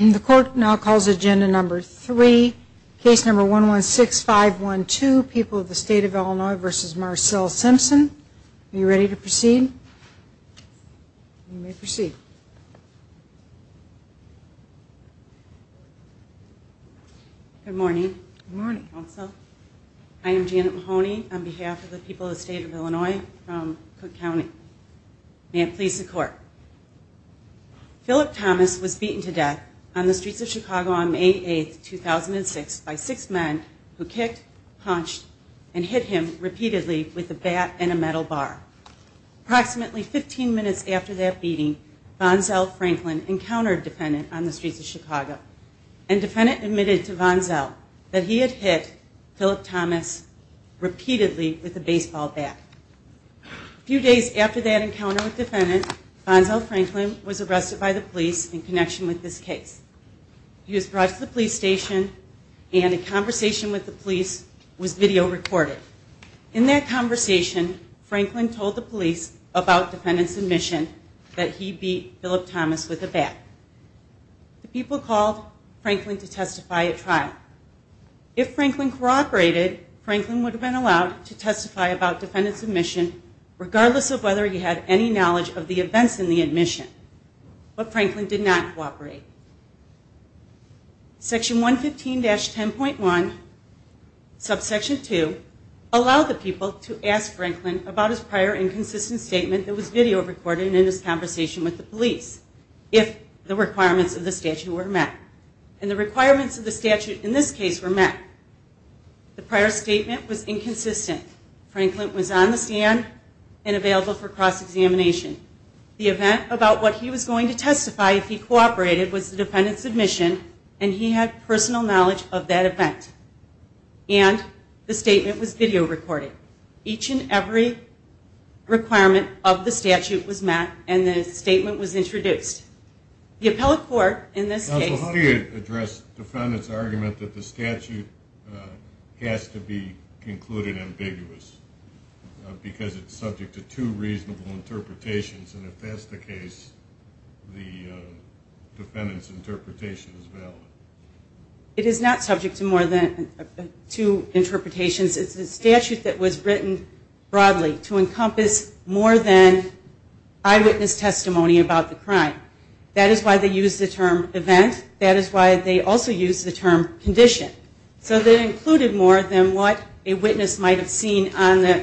And the court now calls agenda number three case number one one six five one two people of the state of Illinois versus Marcelle Simpson. Are you ready to proceed? You may proceed. Good morning. I am Janet Mahoney on behalf of the people of the state of Illinois. I am here today to talk about the case of Philip Thomas. Philip Thomas was beaten to death on the streets of Chicago on May 8, 2006, by six men who kicked, punched, and hit him repeatedly with a bat and a metal bar. Approximately 15 minutes after that beating, Vanzell Franklin encountered a defendant on the streets of Chicago, and the defendant admitted to Vanzell that he had hit Philip Thomas repeatedly with a baseball bat. A few days after that encounter with the defendant, Vanzell Franklin was arrested by the police in connection with this case. He was brought to the police station, and a conversation with the police was video recorded. In that conversation, Franklin told the police about defendant's admission that he beat Philip Thomas with a bat. The people called Franklin to testify at trial. If Franklin cooperated, Franklin would have been allowed to testify about defendant's admission regardless of whether he had any knowledge of the events in the admission. But Franklin did not cooperate. Section 115-10.1, subsection 2, allowed the people to ask Franklin about his prior inconsistent statement that was video recorded in his conversation with the police, if the requirements of the statute were met. And the requirements of the statute in this case were met. The prior statement was inconsistent. Franklin was on the stand and available for cross-examination. The event about what he was going to testify if he cooperated was the defendant's admission, and he had personal knowledge of that event. And the statement was video recorded. Each and every requirement of the statute was met, and the statement was introduced. The appellate court in this case... Counsel, how do you address defendant's argument that the statute has to be concluded ambiguous because it's subject to two reasonable interpretations, and if that's the case, the defendant's interpretation is valid? It is not subject to more than two interpretations. It's a statute that was written broadly to encompass more than eyewitness testimony about the crime. That is why they use the term event. That is why they also use the term condition. So they included more than what a witness might have seen at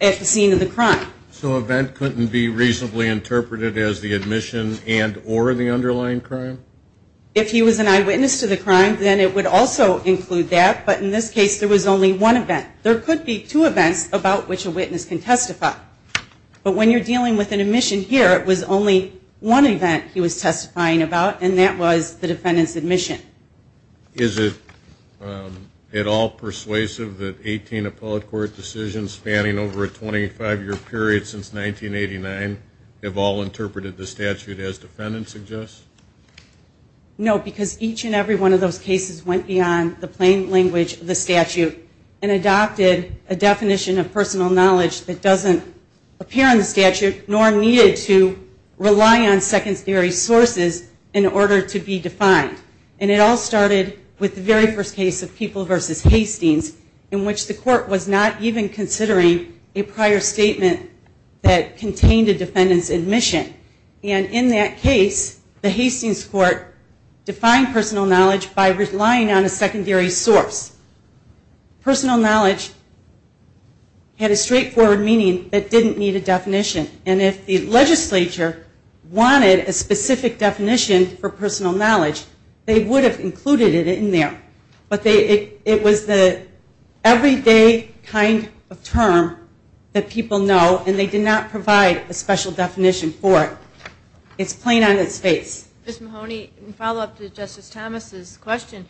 the scene of the crime. So event couldn't be reasonably interpreted as the admission and or the underlying crime? If he was an eyewitness to the crime, then it would also include that. But in this case, there was only one event. There could be two events about which a witness can testify. But when you're dealing with an admission here, it was Is it at all persuasive that 18 appellate court decisions spanning over a 25-year period since 1989 have all interpreted the statute as defendants suggest? No, because each and every one of those cases went beyond the plain language of the statute and adopted a definition of personal knowledge that doesn't appear in the statute, nor needed to rely on secondary sources in order to be defined. And it all started with the very first case of People v. Hastings, in which the court was not even considering a prior statement that contained a defendant's admission. And in that case, the Hastings court defined personal knowledge by relying on a secondary source. Personal knowledge had a straightforward meaning that didn't need a definition. And if the legislature wanted a specific definition for personal knowledge, they would have included it in there. But it was the everyday kind of term that people know, and they did not provide a special definition for it. It's plain on its face. Ms. Mahoney, in follow-up to Justice Thomas' question,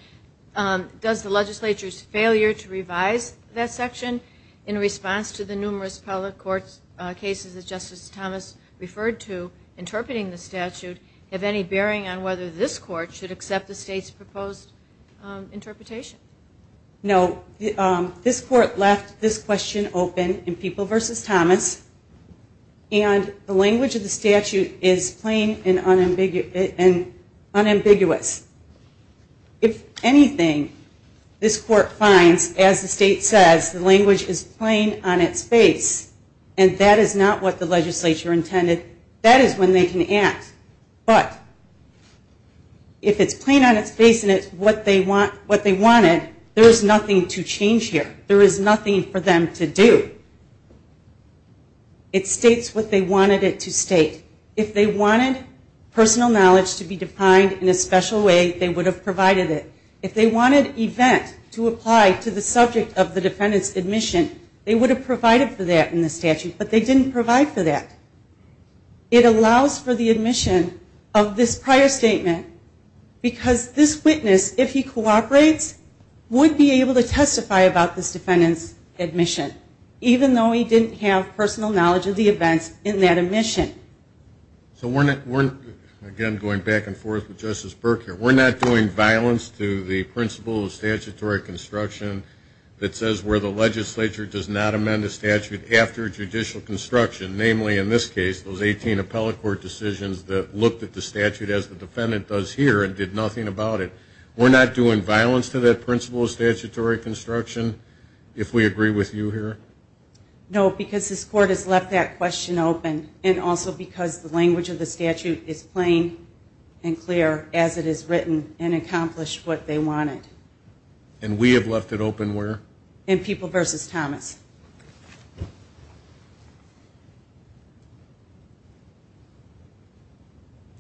does the legislature's failure to revise that section in response to the numerous appellate court cases that Justice Thomas referred to interpreting the statute have any bearing on whether this court should accept the state's proposed interpretation? No. This court left this question open in People v. Thomas, and the language of the statute is plain and unambiguous. If anything, this court finds, as the state says, the language is plain on its face. And that is not what the legislature intended. That is when they can act. But if it's plain on its face and it's what they wanted, there is nothing to change here. There is nothing for them to do. It states what they wanted it to state. If they wanted personal knowledge to be defined in a special way, they would have provided it. If they wanted event to apply to the subject of the defendant's admission, they would have provided for that in the statute. But they didn't provide for that. It allows for the admission of this prior statement because this witness, if he cooperates, would be able to testify about this defendant's admission, even though he didn't have personal knowledge of the events in that admission. So we're, again, going back and forth with Justice Berk here. We're not doing violence to the principle of statutory construction that says where the defendant is after judicial construction. Namely, in this case, those 18 appellate court decisions that looked at the statute as the defendant does here and did nothing about it. We're not doing violence to that principle of statutory construction, if we agree with you here? No, because this court has left that question open. And also because the language of the statute is plain and clear as it is written and accomplished what they wanted. And we have left it open where? In People v. Thomas.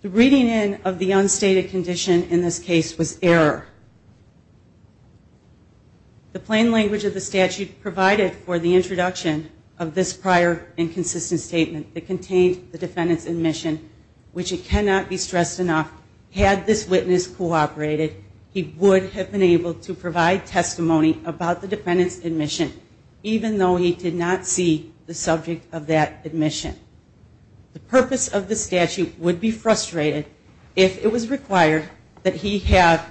The reading in of the unstated condition in this case was error. The plain language of the statute provided for the introduction of this prior inconsistent statement that contained the defendant's admission, which it cannot be stressed enough, had this witness cooperated, he would have been able to provide testimony about the defendant's admission, even though he did not see the subject of that admission. The purpose of the statute would be frustrated if it was required that he have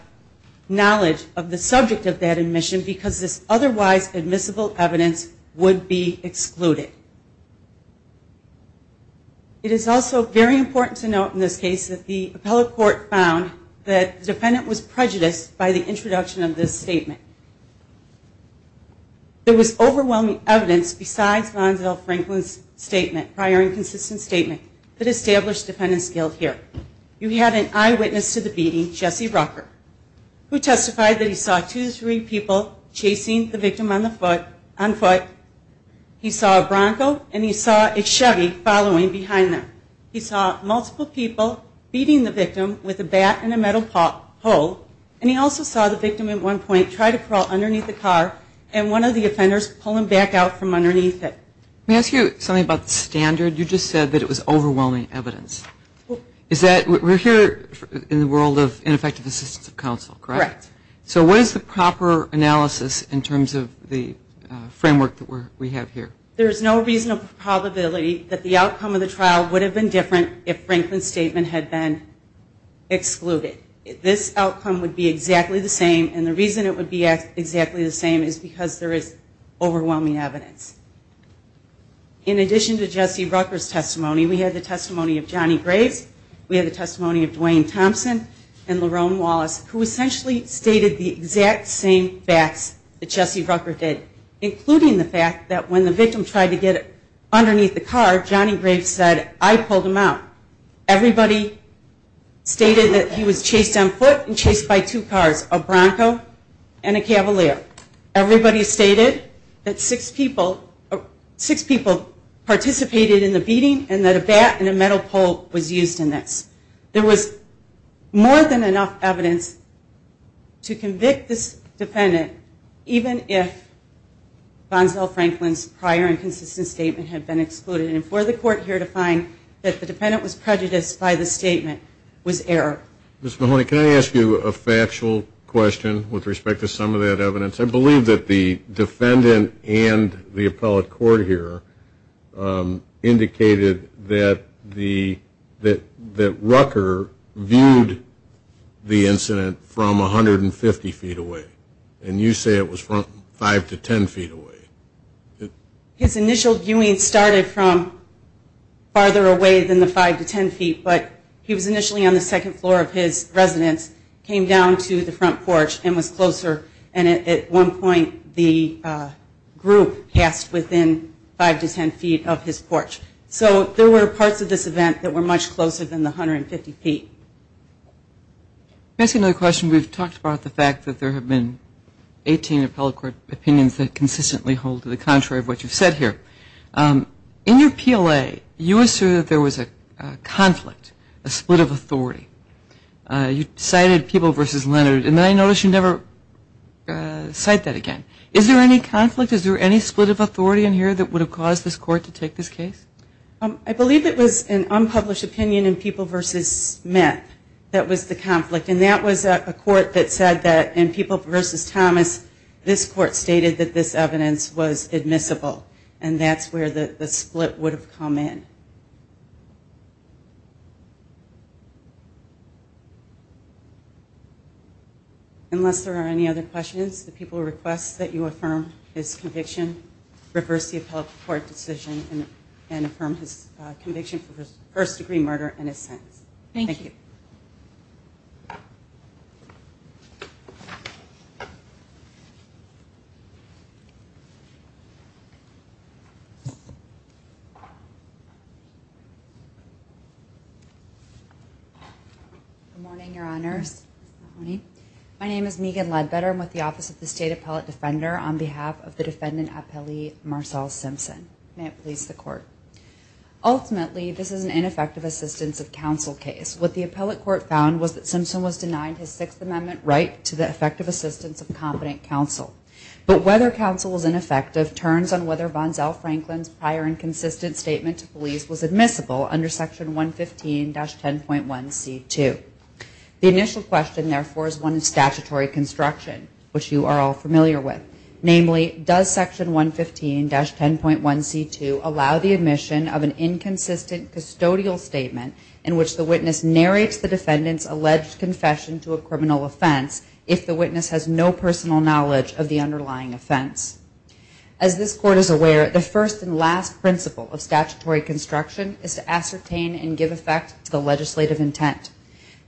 knowledge of the subject of that admission because this otherwise admissible evidence would be excluded. It is also very important to note in this case that the appellate court found that the defendant was prejudiced by the introduction of this statement. There was overwhelming evidence besides Gonsal Franklin's statement, prior inconsistent statement, that established the defendant's guilt here. You had an eyewitness to the beating, Jesse Rucker, who testified that he saw two to three people chasing the victim on foot. He saw a Bronco and he saw a Chevy following behind them. He saw multiple people beating the victim with a bat and a metal pole. And he also saw the victim at one point try to crawl underneath the car and one of the offenders pull him back out from underneath it. Let me ask you something about the standard. You just said that it was overwhelming evidence. We're here in the world of ineffective assistance of counsel, correct? Correct. So what is the proper analysis in terms of the framework that we have here? There is no reasonable probability that the outcome of the trial would have been different if Franklin's statement had been excluded. This outcome would be exactly the same and the reason it would be exactly the same is because there is overwhelming evidence. In addition to Jesse Rucker's testimony, we had the testimony of Johnny Graves, we had the testimony of Dwayne Thompson and Lerone Wallace, who essentially stated the exact same facts that Jesse Rucker did, including the fact that the victim tried to get underneath the car, Johnny Graves said, I pulled him out. Everybody stated that he was chased on foot and chased by two cars, a Bronco and a Cavalier. Everybody stated that six people participated in the beating and that a bat and a metal pole was used in this. There was more than enough evidence to convict this defendant, even if Gonzale Franklin's prior and consistent statement had been excluded. And for the court here to find that the defendant was prejudiced by the statement was error. Ms. Mahoney, can I ask you a factual question with respect to some of that evidence? I believe that the defendant and the appellate court here indicated that Rucker viewed the incident from 150 feet away and you say it was from 5 to 10 feet away. His initial viewing started from farther away than the 5 to 10 feet, but he was initially on the second floor of his residence, came down to the front porch and was closer and at one point the group passed within 5 to 10 feet of his porch. So there were parts of this event that were much closer than the 150 feet. Can I ask you another question? We've talked about the fact that there have been 18 appellate court opinions that consistently hold to the contrary of what you've said here. In your PLA, you assume that there was a conflict, a split of authority. You cited People v. Leonard and then I notice you never cite that again. Is there any conflict? Is there any split of authority in here that would have caused this court to take this case? I believe it was an unpublished opinion in People v. Smith that was the conflict. And that was a court that said that in People v. Thomas, this court stated that this evidence was admissible and that's where the split would have come in. Unless there are any other questions, the people request that you affirm his conviction, reverse the appellate court decision and affirm his conviction for first-degree murder and his sentence. Thank you. Good morning, Your Honors. Good morning. My name is Megan Ledbetter. I'm with the Office of the State Appellate Defender on behalf of the defendant appellee, Marcel Simpson. May it please the Court. Ultimately, this is an ineffective assistance of counsel case. What the appellate court found was that Simpson was denied his Sixth Amendment right to the effective assistance of competent counsel. But whether counsel is ineffective turns on whether Von Zell Franklin's prior and consistent statement to police was admissible under Section 115-10.1c2. The initial question, therefore, is one of statutory construction, which you are all familiar with. Namely, does Section 115-10.1c2 allow the admission of an inconsistent custodial statement in which the witness narrates the defendant's alleged confession to a criminal offense if the witness has no personal knowledge of the underlying offense? As this Court is aware, the first and last principle of statutory construction is to ascertain and give effect to the legislative intent.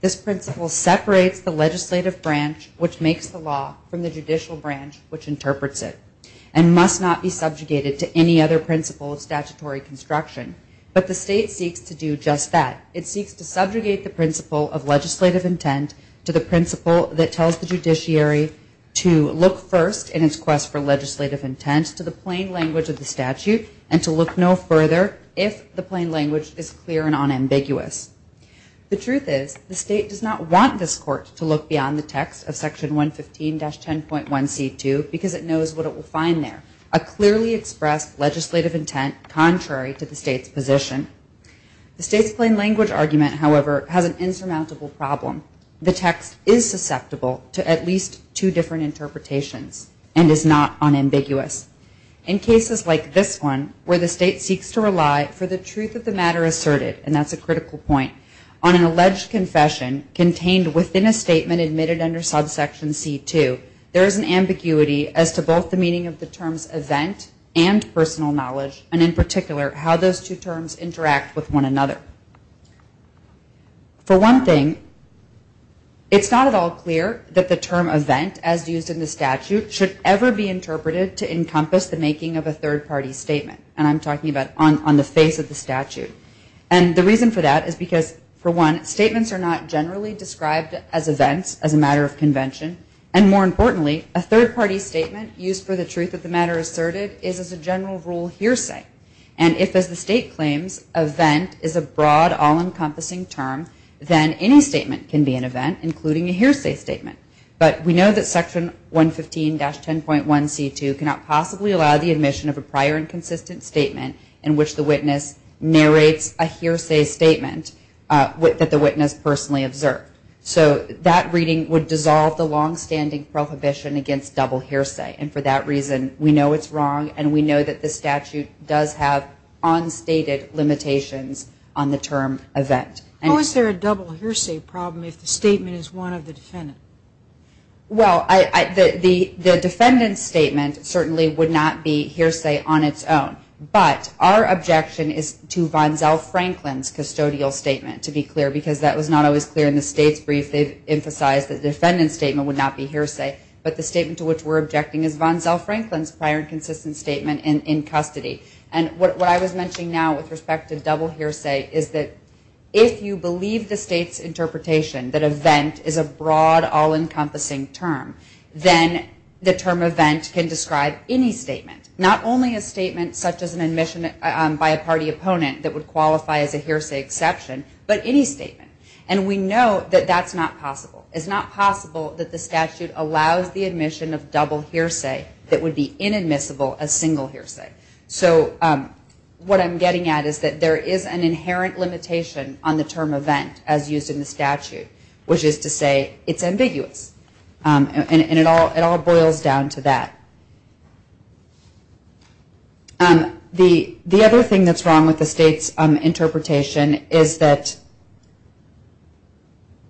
This principle separates the legislative branch, which makes the law, from the and must not be subjugated to any other principle of statutory construction. But the State seeks to do just that. It seeks to subjugate the principle of legislative intent to the principle that tells the judiciary to look first in its quest for legislative intent to the plain language of the statute and to look no further if the plain language is clear and unambiguous. The truth is, the State does not want this Court to look beyond the text of what it will find there, a clearly expressed legislative intent contrary to the State's position. The State's plain language argument, however, has an insurmountable problem. The text is susceptible to at least two different interpretations and is not unambiguous. In cases like this one, where the State seeks to rely for the truth of the matter asserted, and that's a critical point, on an alleged confession contained within a statement admitted under subsection c2, there is an ambiguity as to both the meaning of the terms event and personal knowledge, and in particular, how those two terms interact with one another. For one thing, it's not at all clear that the term event, as used in the statute, should ever be interpreted to encompass the making of a third-party statement. And I'm talking about on the face of the statute. And the reason for that is because, for one, statements are not generally described as events, as a matter of convention. And more importantly, a third-party statement used for the truth of the matter asserted is, as a general rule, hearsay. And if, as the State claims, event is a broad, all-encompassing term, then any statement can be an event, including a hearsay statement. But we know that section 115-10.1c2 cannot possibly allow the admission of a prior and consistent statement in which the witness narrates a hearsay statement that the witness personally observed. So that reading would dissolve the long-standing prohibition against double hearsay. And for that reason, we know it's wrong, and we know that the statute does have unstated limitations on the term event. How is there a double hearsay problem if the statement is one of the defendant? Well, the defendant's statement certainly would not be hearsay on its own. But our objection is to Vonzell Franklin's custodial statement, to be clear, because that was not always clear in the State's brief. They've emphasized the defendant's statement would not be hearsay. But the statement to which we're objecting is Vonzell Franklin's prior and consistent statement in custody. And what I was mentioning now with respect to double hearsay is that if you believe the State's interpretation that event is a broad, all-encompassing term, then the term event can describe any statement, not only a statement such as an admission by a party opponent that would qualify as a hearsay exception, but any statement. And we know that that's not possible. It's not possible that the statute allows the admission of double hearsay that would be inadmissible as single hearsay. So what I'm getting at is that there is an inherent limitation on the term event, as used in the statute, which is to say it's ambiguous. And it all boils down to that. The other thing that's wrong with the State's interpretation is that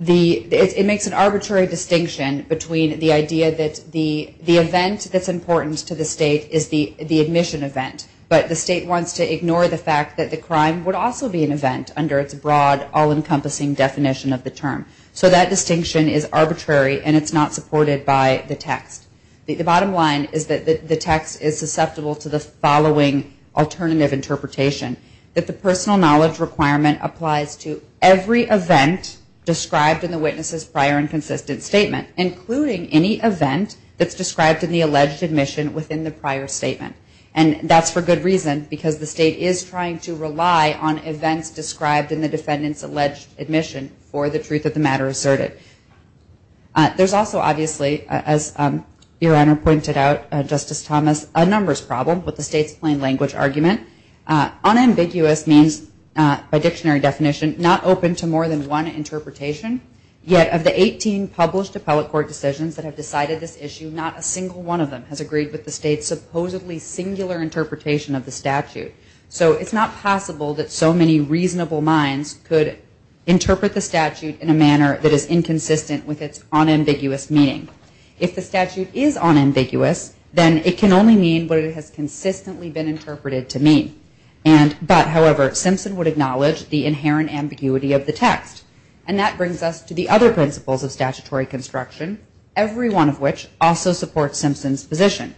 it makes an arbitrary distinction between the idea that the event that's important to the State is the admission event, but the State wants to ignore the fact that the crime would also be an event under its broad, all-encompassing definition of the term. So that distinction is arbitrary, and it's not supported by the text. The bottom line is that the text is susceptible to the following alternative interpretation, that the personal knowledge requirement applies to every event described in the witness's prior and consistent statement, including any event that's described in the alleged admission within the prior statement. And that's for good reason, because the State is trying to rely on events described in the defendant's alleged admission for the truth of the matter asserted. There's also, obviously, as Your Honor pointed out, Justice Thomas, a numbers problem with the State's plain language argument. Unambiguous means, by dictionary definition, not open to more than one interpretation. Yet of the 18 published appellate court decisions that have decided this issue, not a single one of them has agreed with the State's supposedly singular interpretation of the statute. So it's not possible that so many reasonable minds could interpret the statute to be consistent with its unambiguous meaning. If the statute is unambiguous, then it can only mean what it has consistently been interpreted to mean. But, however, Simpson would acknowledge the inherent ambiguity of the text. And that brings us to the other principles of statutory construction, every one of which also supports Simpson's position.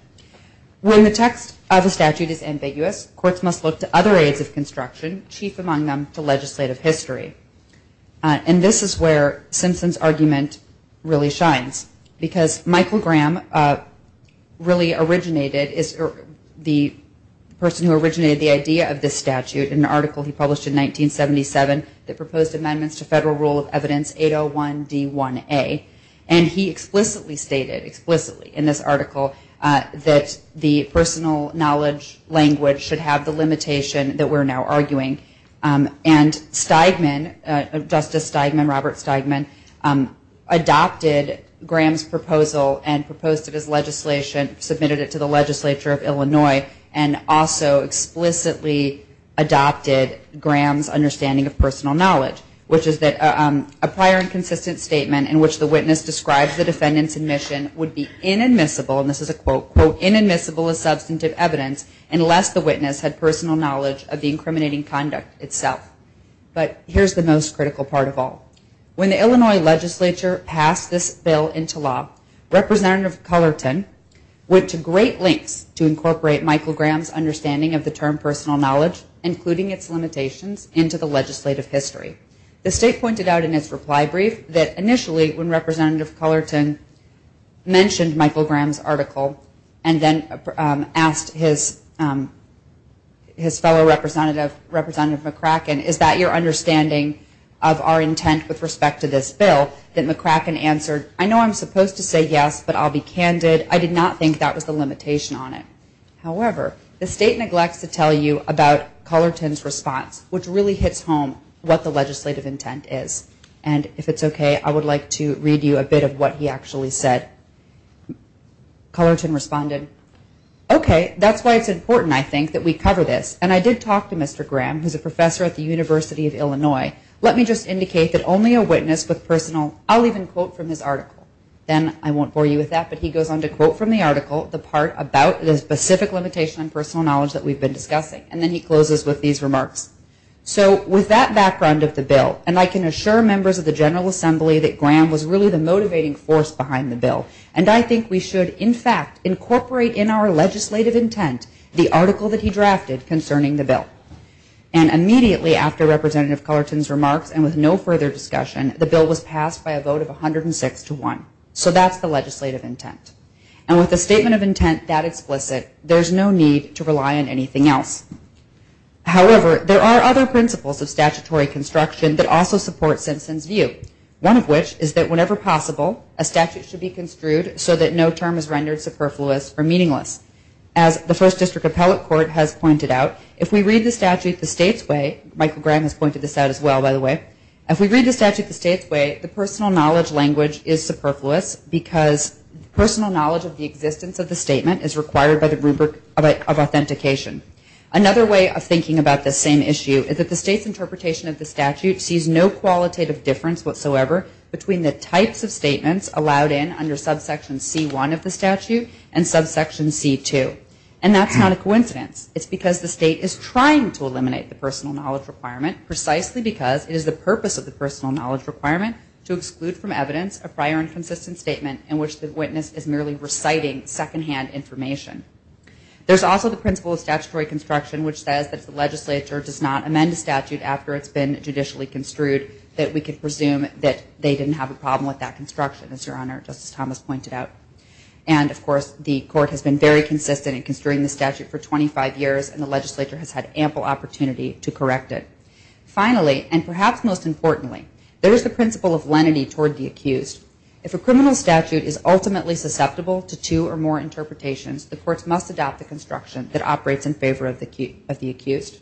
When the text of a statute is ambiguous, courts must look to other aids of construction, chief among them to legislative history. And this is where Simpson's argument really shines, because Michael Graham really originated, the person who originated the idea of this statute, in an article he published in 1977 that proposed amendments to Federal Rule of Evidence 801D1A. And he explicitly stated, explicitly in this article, that the personal knowledge language should have the limitation that we're now arguing. And Stigman, Justice Stigman, Robert Stigman, adopted Graham's proposal and proposed it as legislation, submitted it to the legislature of Illinois, and also explicitly adopted Graham's understanding of personal knowledge, which is that a prior and consistent statement in which the witness describes the defendant's admission would be inadmissible, and this is a quote, quote, inadmissible as substantive evidence unless the witness had itself. But here's the most critical part of all. When the Illinois legislature passed this bill into law, Representative Cullerton went to great lengths to incorporate Michael Graham's understanding of the term personal knowledge, including its limitations, into the legislative history. The state pointed out in its reply brief that initially, when Representative Cullerton mentioned Michael Graham's article and then asked his fellow representative, Representative McCracken, is that your understanding of our intent with respect to this bill, that McCracken answered, I know I'm supposed to say yes, but I'll be candid. I did not think that was the limitation on it. However, the state neglects to tell you about Cullerton's response, which really hits home what the legislative intent is. And if it's okay, I would like to read you a bit of what he actually said. Cullerton responded, okay, that's why it's important, I think, that we cover this. And I did talk to Mr. Graham, who's a professor at the University of Illinois. Let me just indicate that only a witness with personal, I'll even quote from his article. Then I won't bore you with that. But he goes on to quote from the article the part about the specific limitation on personal knowledge that we've been discussing. And then he closes with these remarks. So with that background of the bill, and I can assure members of the General Assembly that Graham was really the And I think we should, in fact, incorporate in our legislative intent the article that he drafted concerning the bill. And immediately after Representative Cullerton's remarks, and with no further discussion, the bill was passed by a vote of 106 to 1. So that's the legislative intent. And with a statement of intent that explicit, there's no need to rely on anything else. However, there are other principles of statutory construction that also support Simpson's view, one of which is that whenever possible, a statute should be construed so that no term is rendered superfluous or meaningless. As the First District Appellate Court has pointed out, if we read the statute the state's way, Michael Graham has pointed this out as well, by the way, if we read the statute the state's way, the personal knowledge language is superfluous because personal knowledge of the existence of the statement is required by the rubric of authentication. Another way of thinking about this same issue is that the state's interpretation of the statute sees no qualitative difference whatsoever between the types of statements allowed in under subsection C1 of the statute and subsection C2. And that's not a coincidence. It's because the state is trying to eliminate the personal knowledge requirement precisely because it is the purpose of the personal knowledge requirement to exclude from evidence a prior inconsistent statement in which the witness is merely reciting secondhand information. There's also the principle of statutory construction which says that if the legislature does not amend a statute after it's been judicially construed, that we could presume that they didn't have a problem with that construction, as Your Honor, Justice Thomas pointed out. And, of course, the court has been very consistent in construing the statute for 25 years, and the legislature has had ample opportunity to correct it. Finally, and perhaps most importantly, there is the principle of lenity toward the accused. If a criminal statute is ultimately susceptible to two or more interpretations, the courts must adopt the construction that operates in favor of the accused.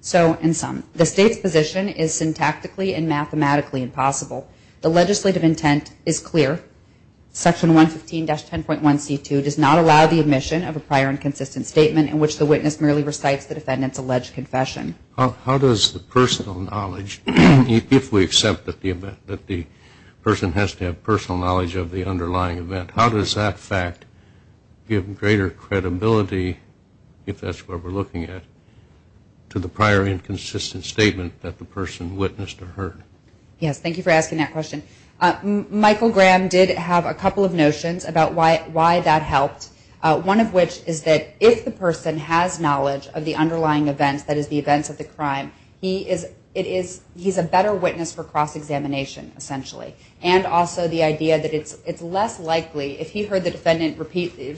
So, in sum, the state's position is syntactically and mathematically impossible. The legislative intent is clear. Section 115-10.1C2 does not allow the admission of a prior inconsistent statement in which the witness merely recites the defendant's alleged confession. How does the personal knowledge, if we accept that the person has to have personal knowledge of the underlying event, how does that fact give greater credibility, if that's what we're looking at, to the prior inconsistent statement that the person witnessed or heard? Yes, thank you for asking that question. Michael Graham did have a couple of notions about why that helped, one of which is that if the person has knowledge of the underlying events, that is, the events of the crime, he is a better witness for cross-examination, essentially. And also the idea that it's less likely, if he heard the defendant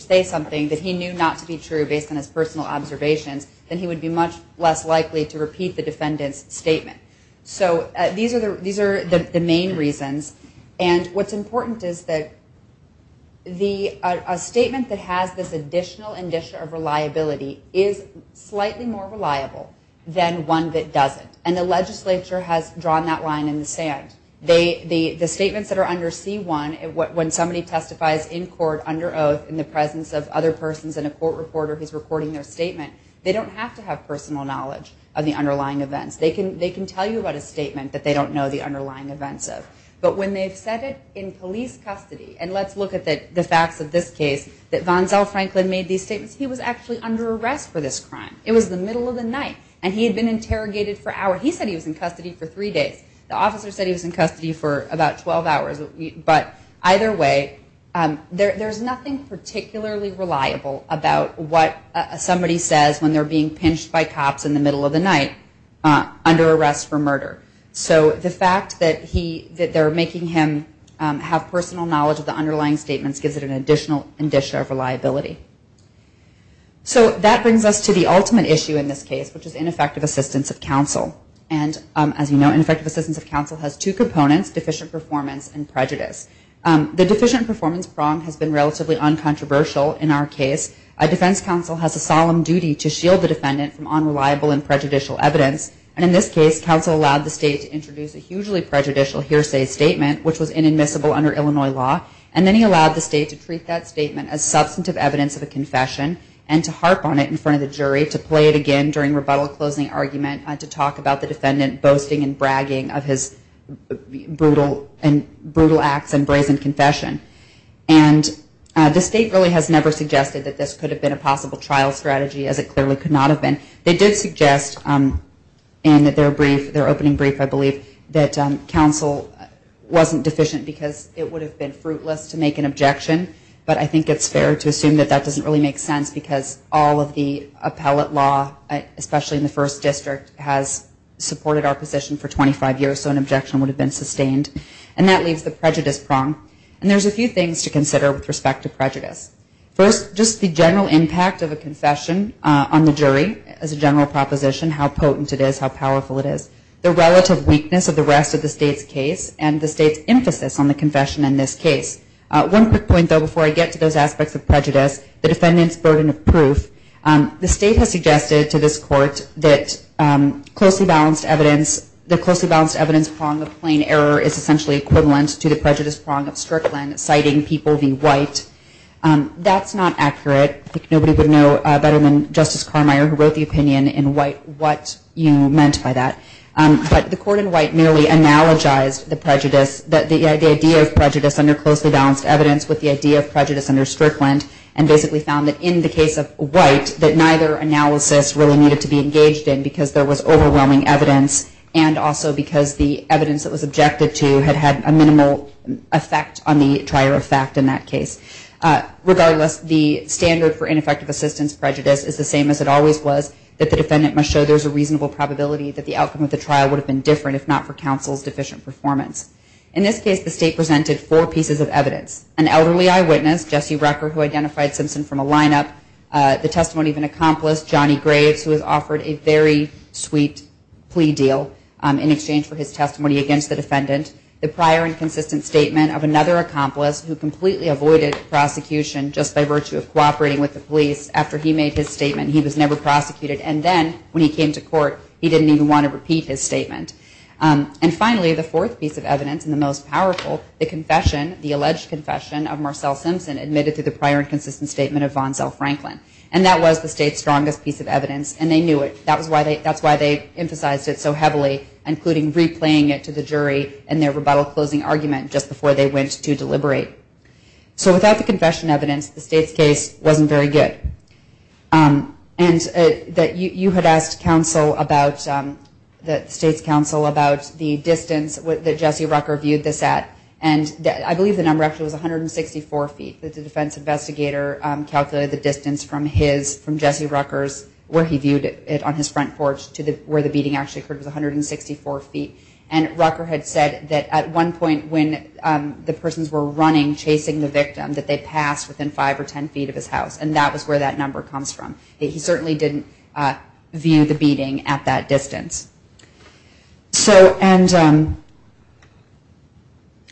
say something that he knew not to be true based on his personal observations, then he would be much less likely to repeat the defendant's statement. So these are the main reasons. And what's important is that a statement that has this additional indicia of reliability is slightly more reliable than one that doesn't. And the legislature has drawn that line in the sand. The statements that are under C1, when somebody testifies in court under oath in the presence of other persons and a court reporter who's recording their statement, they don't have to have personal knowledge of the underlying events. They can tell you about a statement that they don't know the underlying events of. But when they've said it in police custody, and let's look at the facts of this case, that Vanzell Franklin made these statements, he was actually under arrest for this crime. It was the middle of the night, and he had been interrogated for hours. He said he was in custody for three days. The officer said he was in custody for about 12 hours. But either way, there's nothing particularly reliable about what somebody says when they're being pinched by cops in the middle of the night under arrest for murder. So the fact that they're making him have personal knowledge of the underlying statements gives it an additional indicia of reliability. So that brings us to the ultimate issue in this case, which is ineffective assistance of counsel. And as you know, ineffective assistance of counsel has two components, deficient performance and prejudice. The deficient performance prong has been relatively uncontroversial in our case. A defense counsel has a solemn duty to shield the defendant from unreliable and prejudicial evidence. And in this case, counsel allowed the state to introduce a hugely prejudicial hearsay statement, which was inadmissible under Illinois law. And then he allowed the state to treat that statement as substantive evidence of a confession and to harp on it in front of the jury to play it again during rebuttal closing argument to talk about the defendant boasting and bragging of his brutal acts and brazen confession. And the state really has never suggested that this could have been a possible trial strategy, as it clearly could not have been. They did suggest in their opening brief, I believe, that counsel wasn't deficient because it would have been fruitless to make an objection. But I think it's fair to assume that that doesn't really make sense because all of the appellate law, especially in the first district, has supported our position for 25 years, so an objection would have been sustained. And that leaves the prejudice prong. And there's a few things to consider with respect to prejudice. First, just the general impact of a confession on the jury as a general proposition, how potent it is, how powerful it is, the relative weakness of the rest of the state's case, and the state's emphasis on the confession in this case. One quick point, though, before I get to those aspects of prejudice, the defendant's burden of proof. The state has suggested to this court that closely balanced evidence, the closely balanced evidence prong of plain error is essentially equivalent to the prejudice prong of Strickland, citing people being white. That's not accurate. I think nobody would know better than Justice Carmeier, who wrote the opinion in white, what you meant by that. But the court in white merely analogized the prejudice, the idea of prejudice under closely balanced evidence with the idea of prejudice under Strickland, and basically found that in the case of white, that neither analysis really needed to be engaged in because there was overwhelming evidence and also because the evidence that was objected to had had a minimal effect on the trier of fact in that case. Regardless, the standard for ineffective assistance prejudice is the same as it always was, that the defendant must show there's a reasonable probability that the outcome of the trial would have been different if not for counsel's deficient performance. In this case, the state presented four pieces of evidence. An elderly eyewitness, Jesse Rucker, who identified Simpson from a lineup. The testimony of an accomplice, Johnny Graves, who was offered a very sweet plea deal in exchange for his testimony against the defendant. The prior and consistent statement of another accomplice who completely avoided prosecution just by virtue of cooperating with the police after he made his statement. He was never prosecuted, and then when he came to court, he didn't even want to repeat his statement. And finally, the fourth piece of evidence, and the most powerful, the confession, the alleged confession of Marcel Simpson admitted to the prior and consistent statement of Vonzell Franklin. And that was the state's strongest piece of evidence, and they knew it. That's why they emphasized it so heavily, including replaying it to the jury in their rebuttal closing argument just before they went to deliberate. So without the confession evidence, the state's case wasn't very good. And you had asked counsel about, the state's counsel about the distance that Jesse Rucker viewed this at. And I believe the number actually was 164 feet that the defense investigator calculated the distance from his, from Jesse Rucker's, where he viewed it on his front porch to where the beating actually occurred was 164 feet. And Rucker had said that at one point when the persons were running, chasing the victim, that they passed within five or ten feet of his house. And that was where that number comes from. He certainly didn't view the beating at that distance. So, and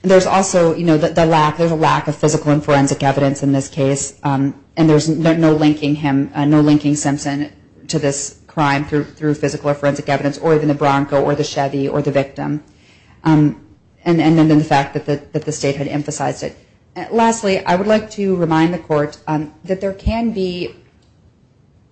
there's also, you know, the lack, there's a lack of physical and forensic evidence in this case. And there's no linking him, no linking Simpson to this crime through physical or forensic evidence, or even the Bronco or the Chevy or the victim. And then the fact that the state had emphasized it. Lastly, I would like to remind the court that there can be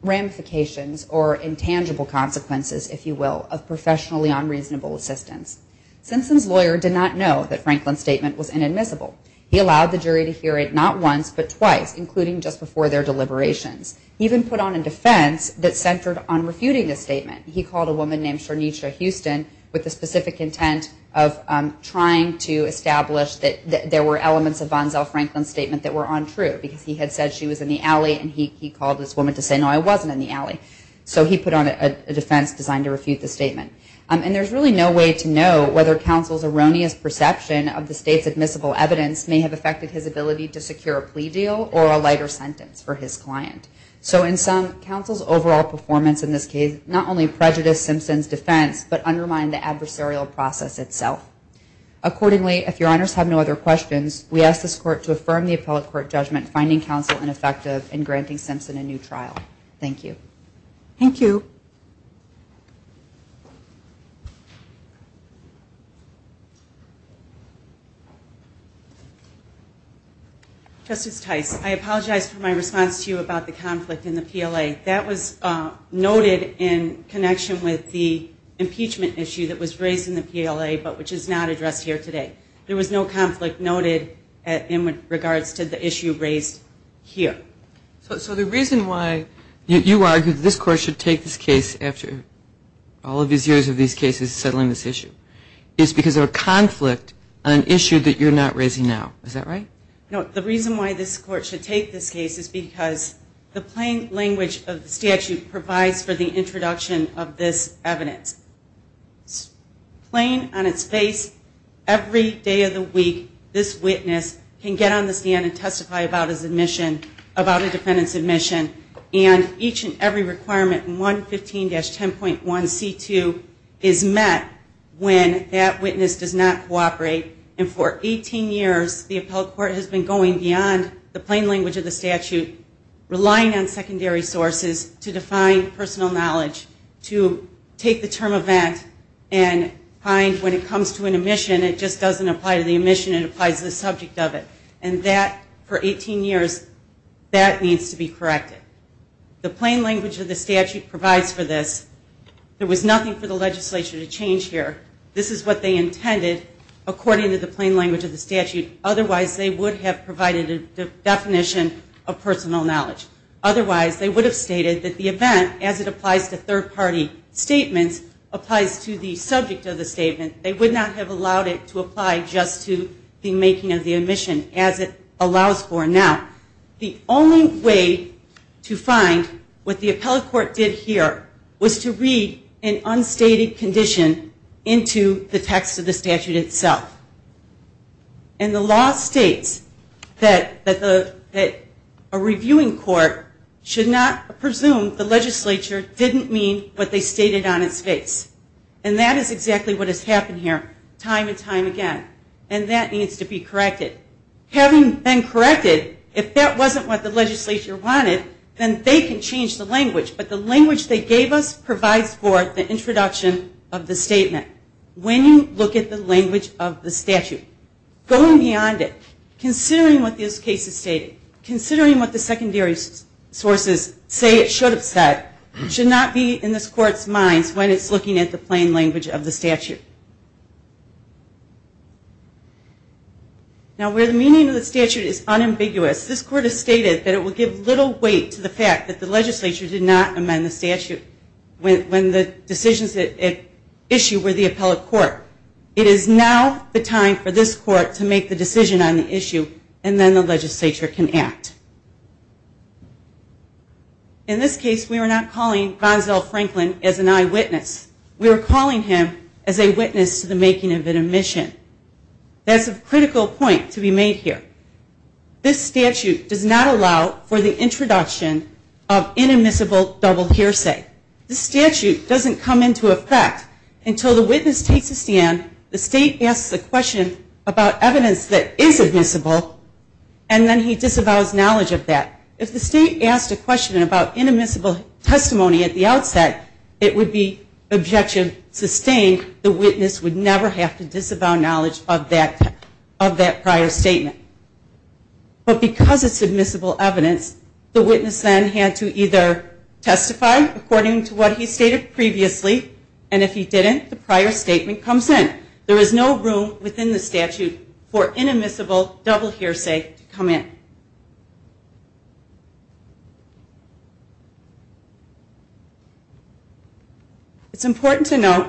ramifications or intangible consequences, if you will, of professionally unreasonable assistance. Simpson's lawyer did not know that Franklin's statement was inadmissible. He allowed the jury to hear it not once, but twice, including just before their deliberations. He even put on a defense that centered on refuting the statement. He called a woman named Sharnisha Houston with the specific intent of trying to establish that there were elements of Vonzell Franklin's statement that were untrue, because he had said she was in the alley and he called this woman to say, no, I wasn't in the alley. So he put on a defense designed to refute the statement. And there's really no way to know whether counsel's erroneous perception of the state's admissible evidence may have affected his ability to secure a plea deal or a lighter sentence for his client. So in sum, counsel's overall performance in this case not only prejudiced Simpson's defense, but undermined the adversarial process itself. Accordingly, if your honors have no other questions, we ask this court to affirm the appellate court judgment finding counsel ineffective in granting Simpson a new trial. Thank you. Thank you. Justice Tice, I apologize for my response to you about the conflict in the PLA. That was noted in connection with the impeachment issue that was raised in the PLA, but which is not addressed here today. There was no conflict noted in regards to the issue raised here. So the reason why you argue that this court should take this case after all of these years of these cases settling this issue is because of a conflict on an issue that you're not raising now. Is that right? No, the reason why this court should take this case is because the plain language of the statute provides for the introduction of this evidence. Plain on its face, every day of the week, this witness can get on the stand and testify about his admission, about a defendant's admission, and each and every requirement in 115-10.1c2 is met when that witness does not cooperate. And for 18 years, the appellate court has been going beyond the plain language of the statute, relying on secondary sources to define personal knowledge, to take the term event and find when it comes to an admission, it just doesn't apply to the admission, it applies to the subject of it. And that, for 18 years, that needs to be corrected. The plain language of the statute provides for this. There was nothing for the legislature to change here. This is what they intended, according to the plain language of the statute. Otherwise, they would have provided a definition of personal knowledge. Otherwise, they would have stated that the event, as it applies to third-party statements, applies to the subject of the statement. They would not have allowed it to apply just to the making of the admission, as it allows for now. The only way to find what the appellate court did here was to read an unstated condition into the text of the statute itself. And the law states that a reviewing court should not presume the legislature didn't mean what they stated on its face. And that is exactly what has happened here time and time again. And that needs to be corrected. Having been corrected, if that wasn't what the legislature wanted, then they can change the language. But the language they gave us provides for the introduction of the statement. When you look at the language of the statute, going beyond it, considering what this case is stating, considering what the secondary sources say it should have said, should not be in this court's minds when it's looking at the plain language of the statute. Now, where the meaning of the statute is unambiguous, this court has stated that it will give little weight to the fact that the legislature did not amend the statute when the decisions at issue were the appellate court. It is now the time for this court to make the decision on the issue, and then the legislature can act. In this case, we are not calling Gonzale Franklin as an eyewitness. We are calling him as a witness to the making of an admission. That's a critical point to be made here. This statute does not allow for the introduction of inadmissible double hearsay. This statute doesn't come into effect until the witness takes a stand, the state asks a question about evidence that is admissible, and then he disavows knowledge of that. If the state asked a question about inadmissible testimony at the outset, it would be objection sustained. The witness would never have to disavow knowledge of that prior statement. But because it's admissible evidence, the witness then had to either testify according to what he stated previously, and if he didn't, the prior statement comes in. There is no room within the statute for inadmissible double hearsay to come in. It's important to note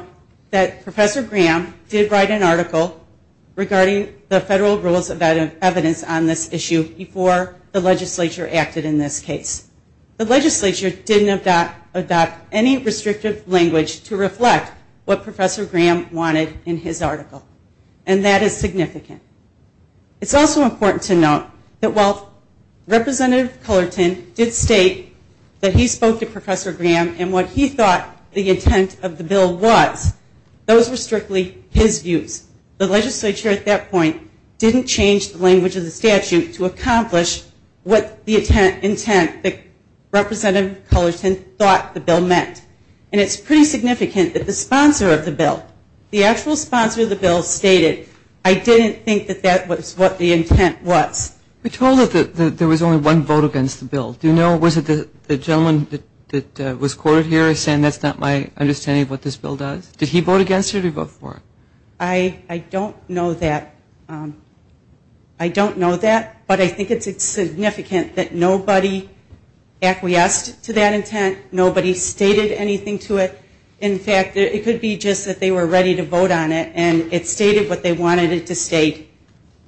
that Professor Graham did write an article regarding the federal rules of evidence on this issue before the legislature acted in this case. The legislature didn't adopt any restrictive language to reflect what Professor Graham wanted in his article, and that is significant. It's also important to note that while Representative Cullerton did state that he spoke to Professor Graham and what he thought the intent of the bill was, those were strictly his views. The legislature at that point didn't change the language of the statute to accomplish what the intent that Representative Cullerton thought the bill meant. And it's pretty significant that the sponsor of the bill, the actual sponsor of the bill stated, I didn't think that that was what the intent was. We told it that there was only one vote against the bill. Do you know, was it the gentleman that was quoted here saying that's not my understanding of what this bill does? Did he vote against it or did he vote for it? I don't know that. I don't know that, but I think it's significant that nobody acquiesced to that intent, nobody stated anything to it. In fact, it could be just that they were ready to vote on it and it stated what they wanted it to state,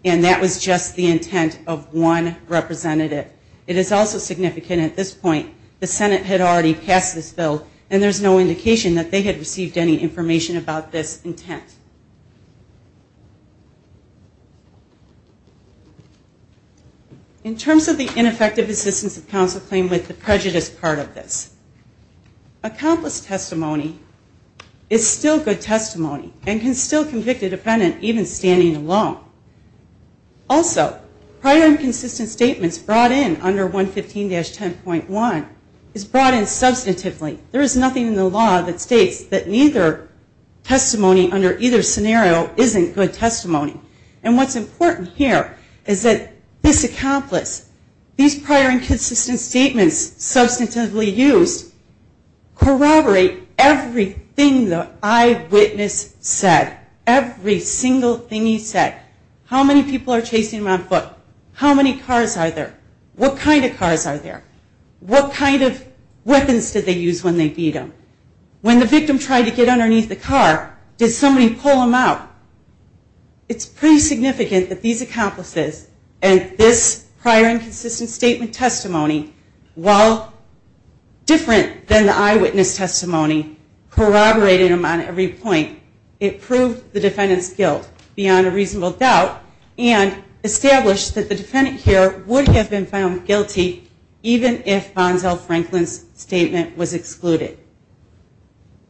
and that was just the intent of one representative. It is also significant at this point the Senate had already passed this bill and there's no indication that they had received any information about this intent. In terms of the ineffective assistance of counsel claim with the prejudice part of this, accomplished testimony is still good testimony and can still convict a defendant even standing alone. Also, prior and consistent statements brought in under 115-10.1 is brought in substantively. There is nothing in the law that states that neither testimony under either testimony or either scenario isn't good testimony. And what's important here is that this accomplice, these prior and consistent statements substantively used corroborate everything the eyewitness said, every single thing he said. How many people are chasing him on foot? How many cars are there? What kind of cars are there? What kind of weapons did they use when they beat him? When the victim tried to get underneath the car, did somebody pull him out? It's pretty significant that these accomplices and this prior and consistent statement testimony, while different than the eyewitness testimony, corroborated them on every point. It proved the defendant's guilt beyond a reasonable doubt and established that the defendant here would have been found guilty even if Bonzell Franklin's statement was excluded.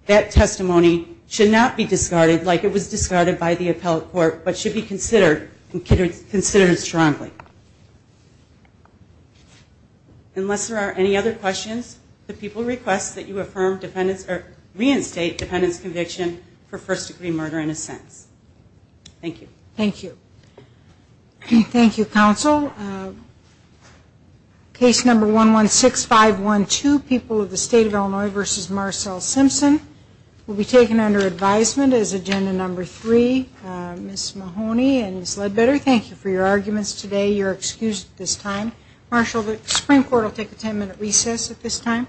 That testimony should not be discarded like it was discarded by the appellate court, but should be considered strongly. Unless there are any other questions, the people request that you reinstate defendant's conviction for first-degree murder in a sentence. Thank you. Thank you. Thank you, counsel. Case number 116512, People of the State of Illinois v. Marcel Simpson, will be taken under advisement as agenda number three. Ms. Mahoney and Ms. Ledbetter, thank you for your arguments today. You're excused at this time. Marshal, the Supreme Court will take a ten-minute recess at this time.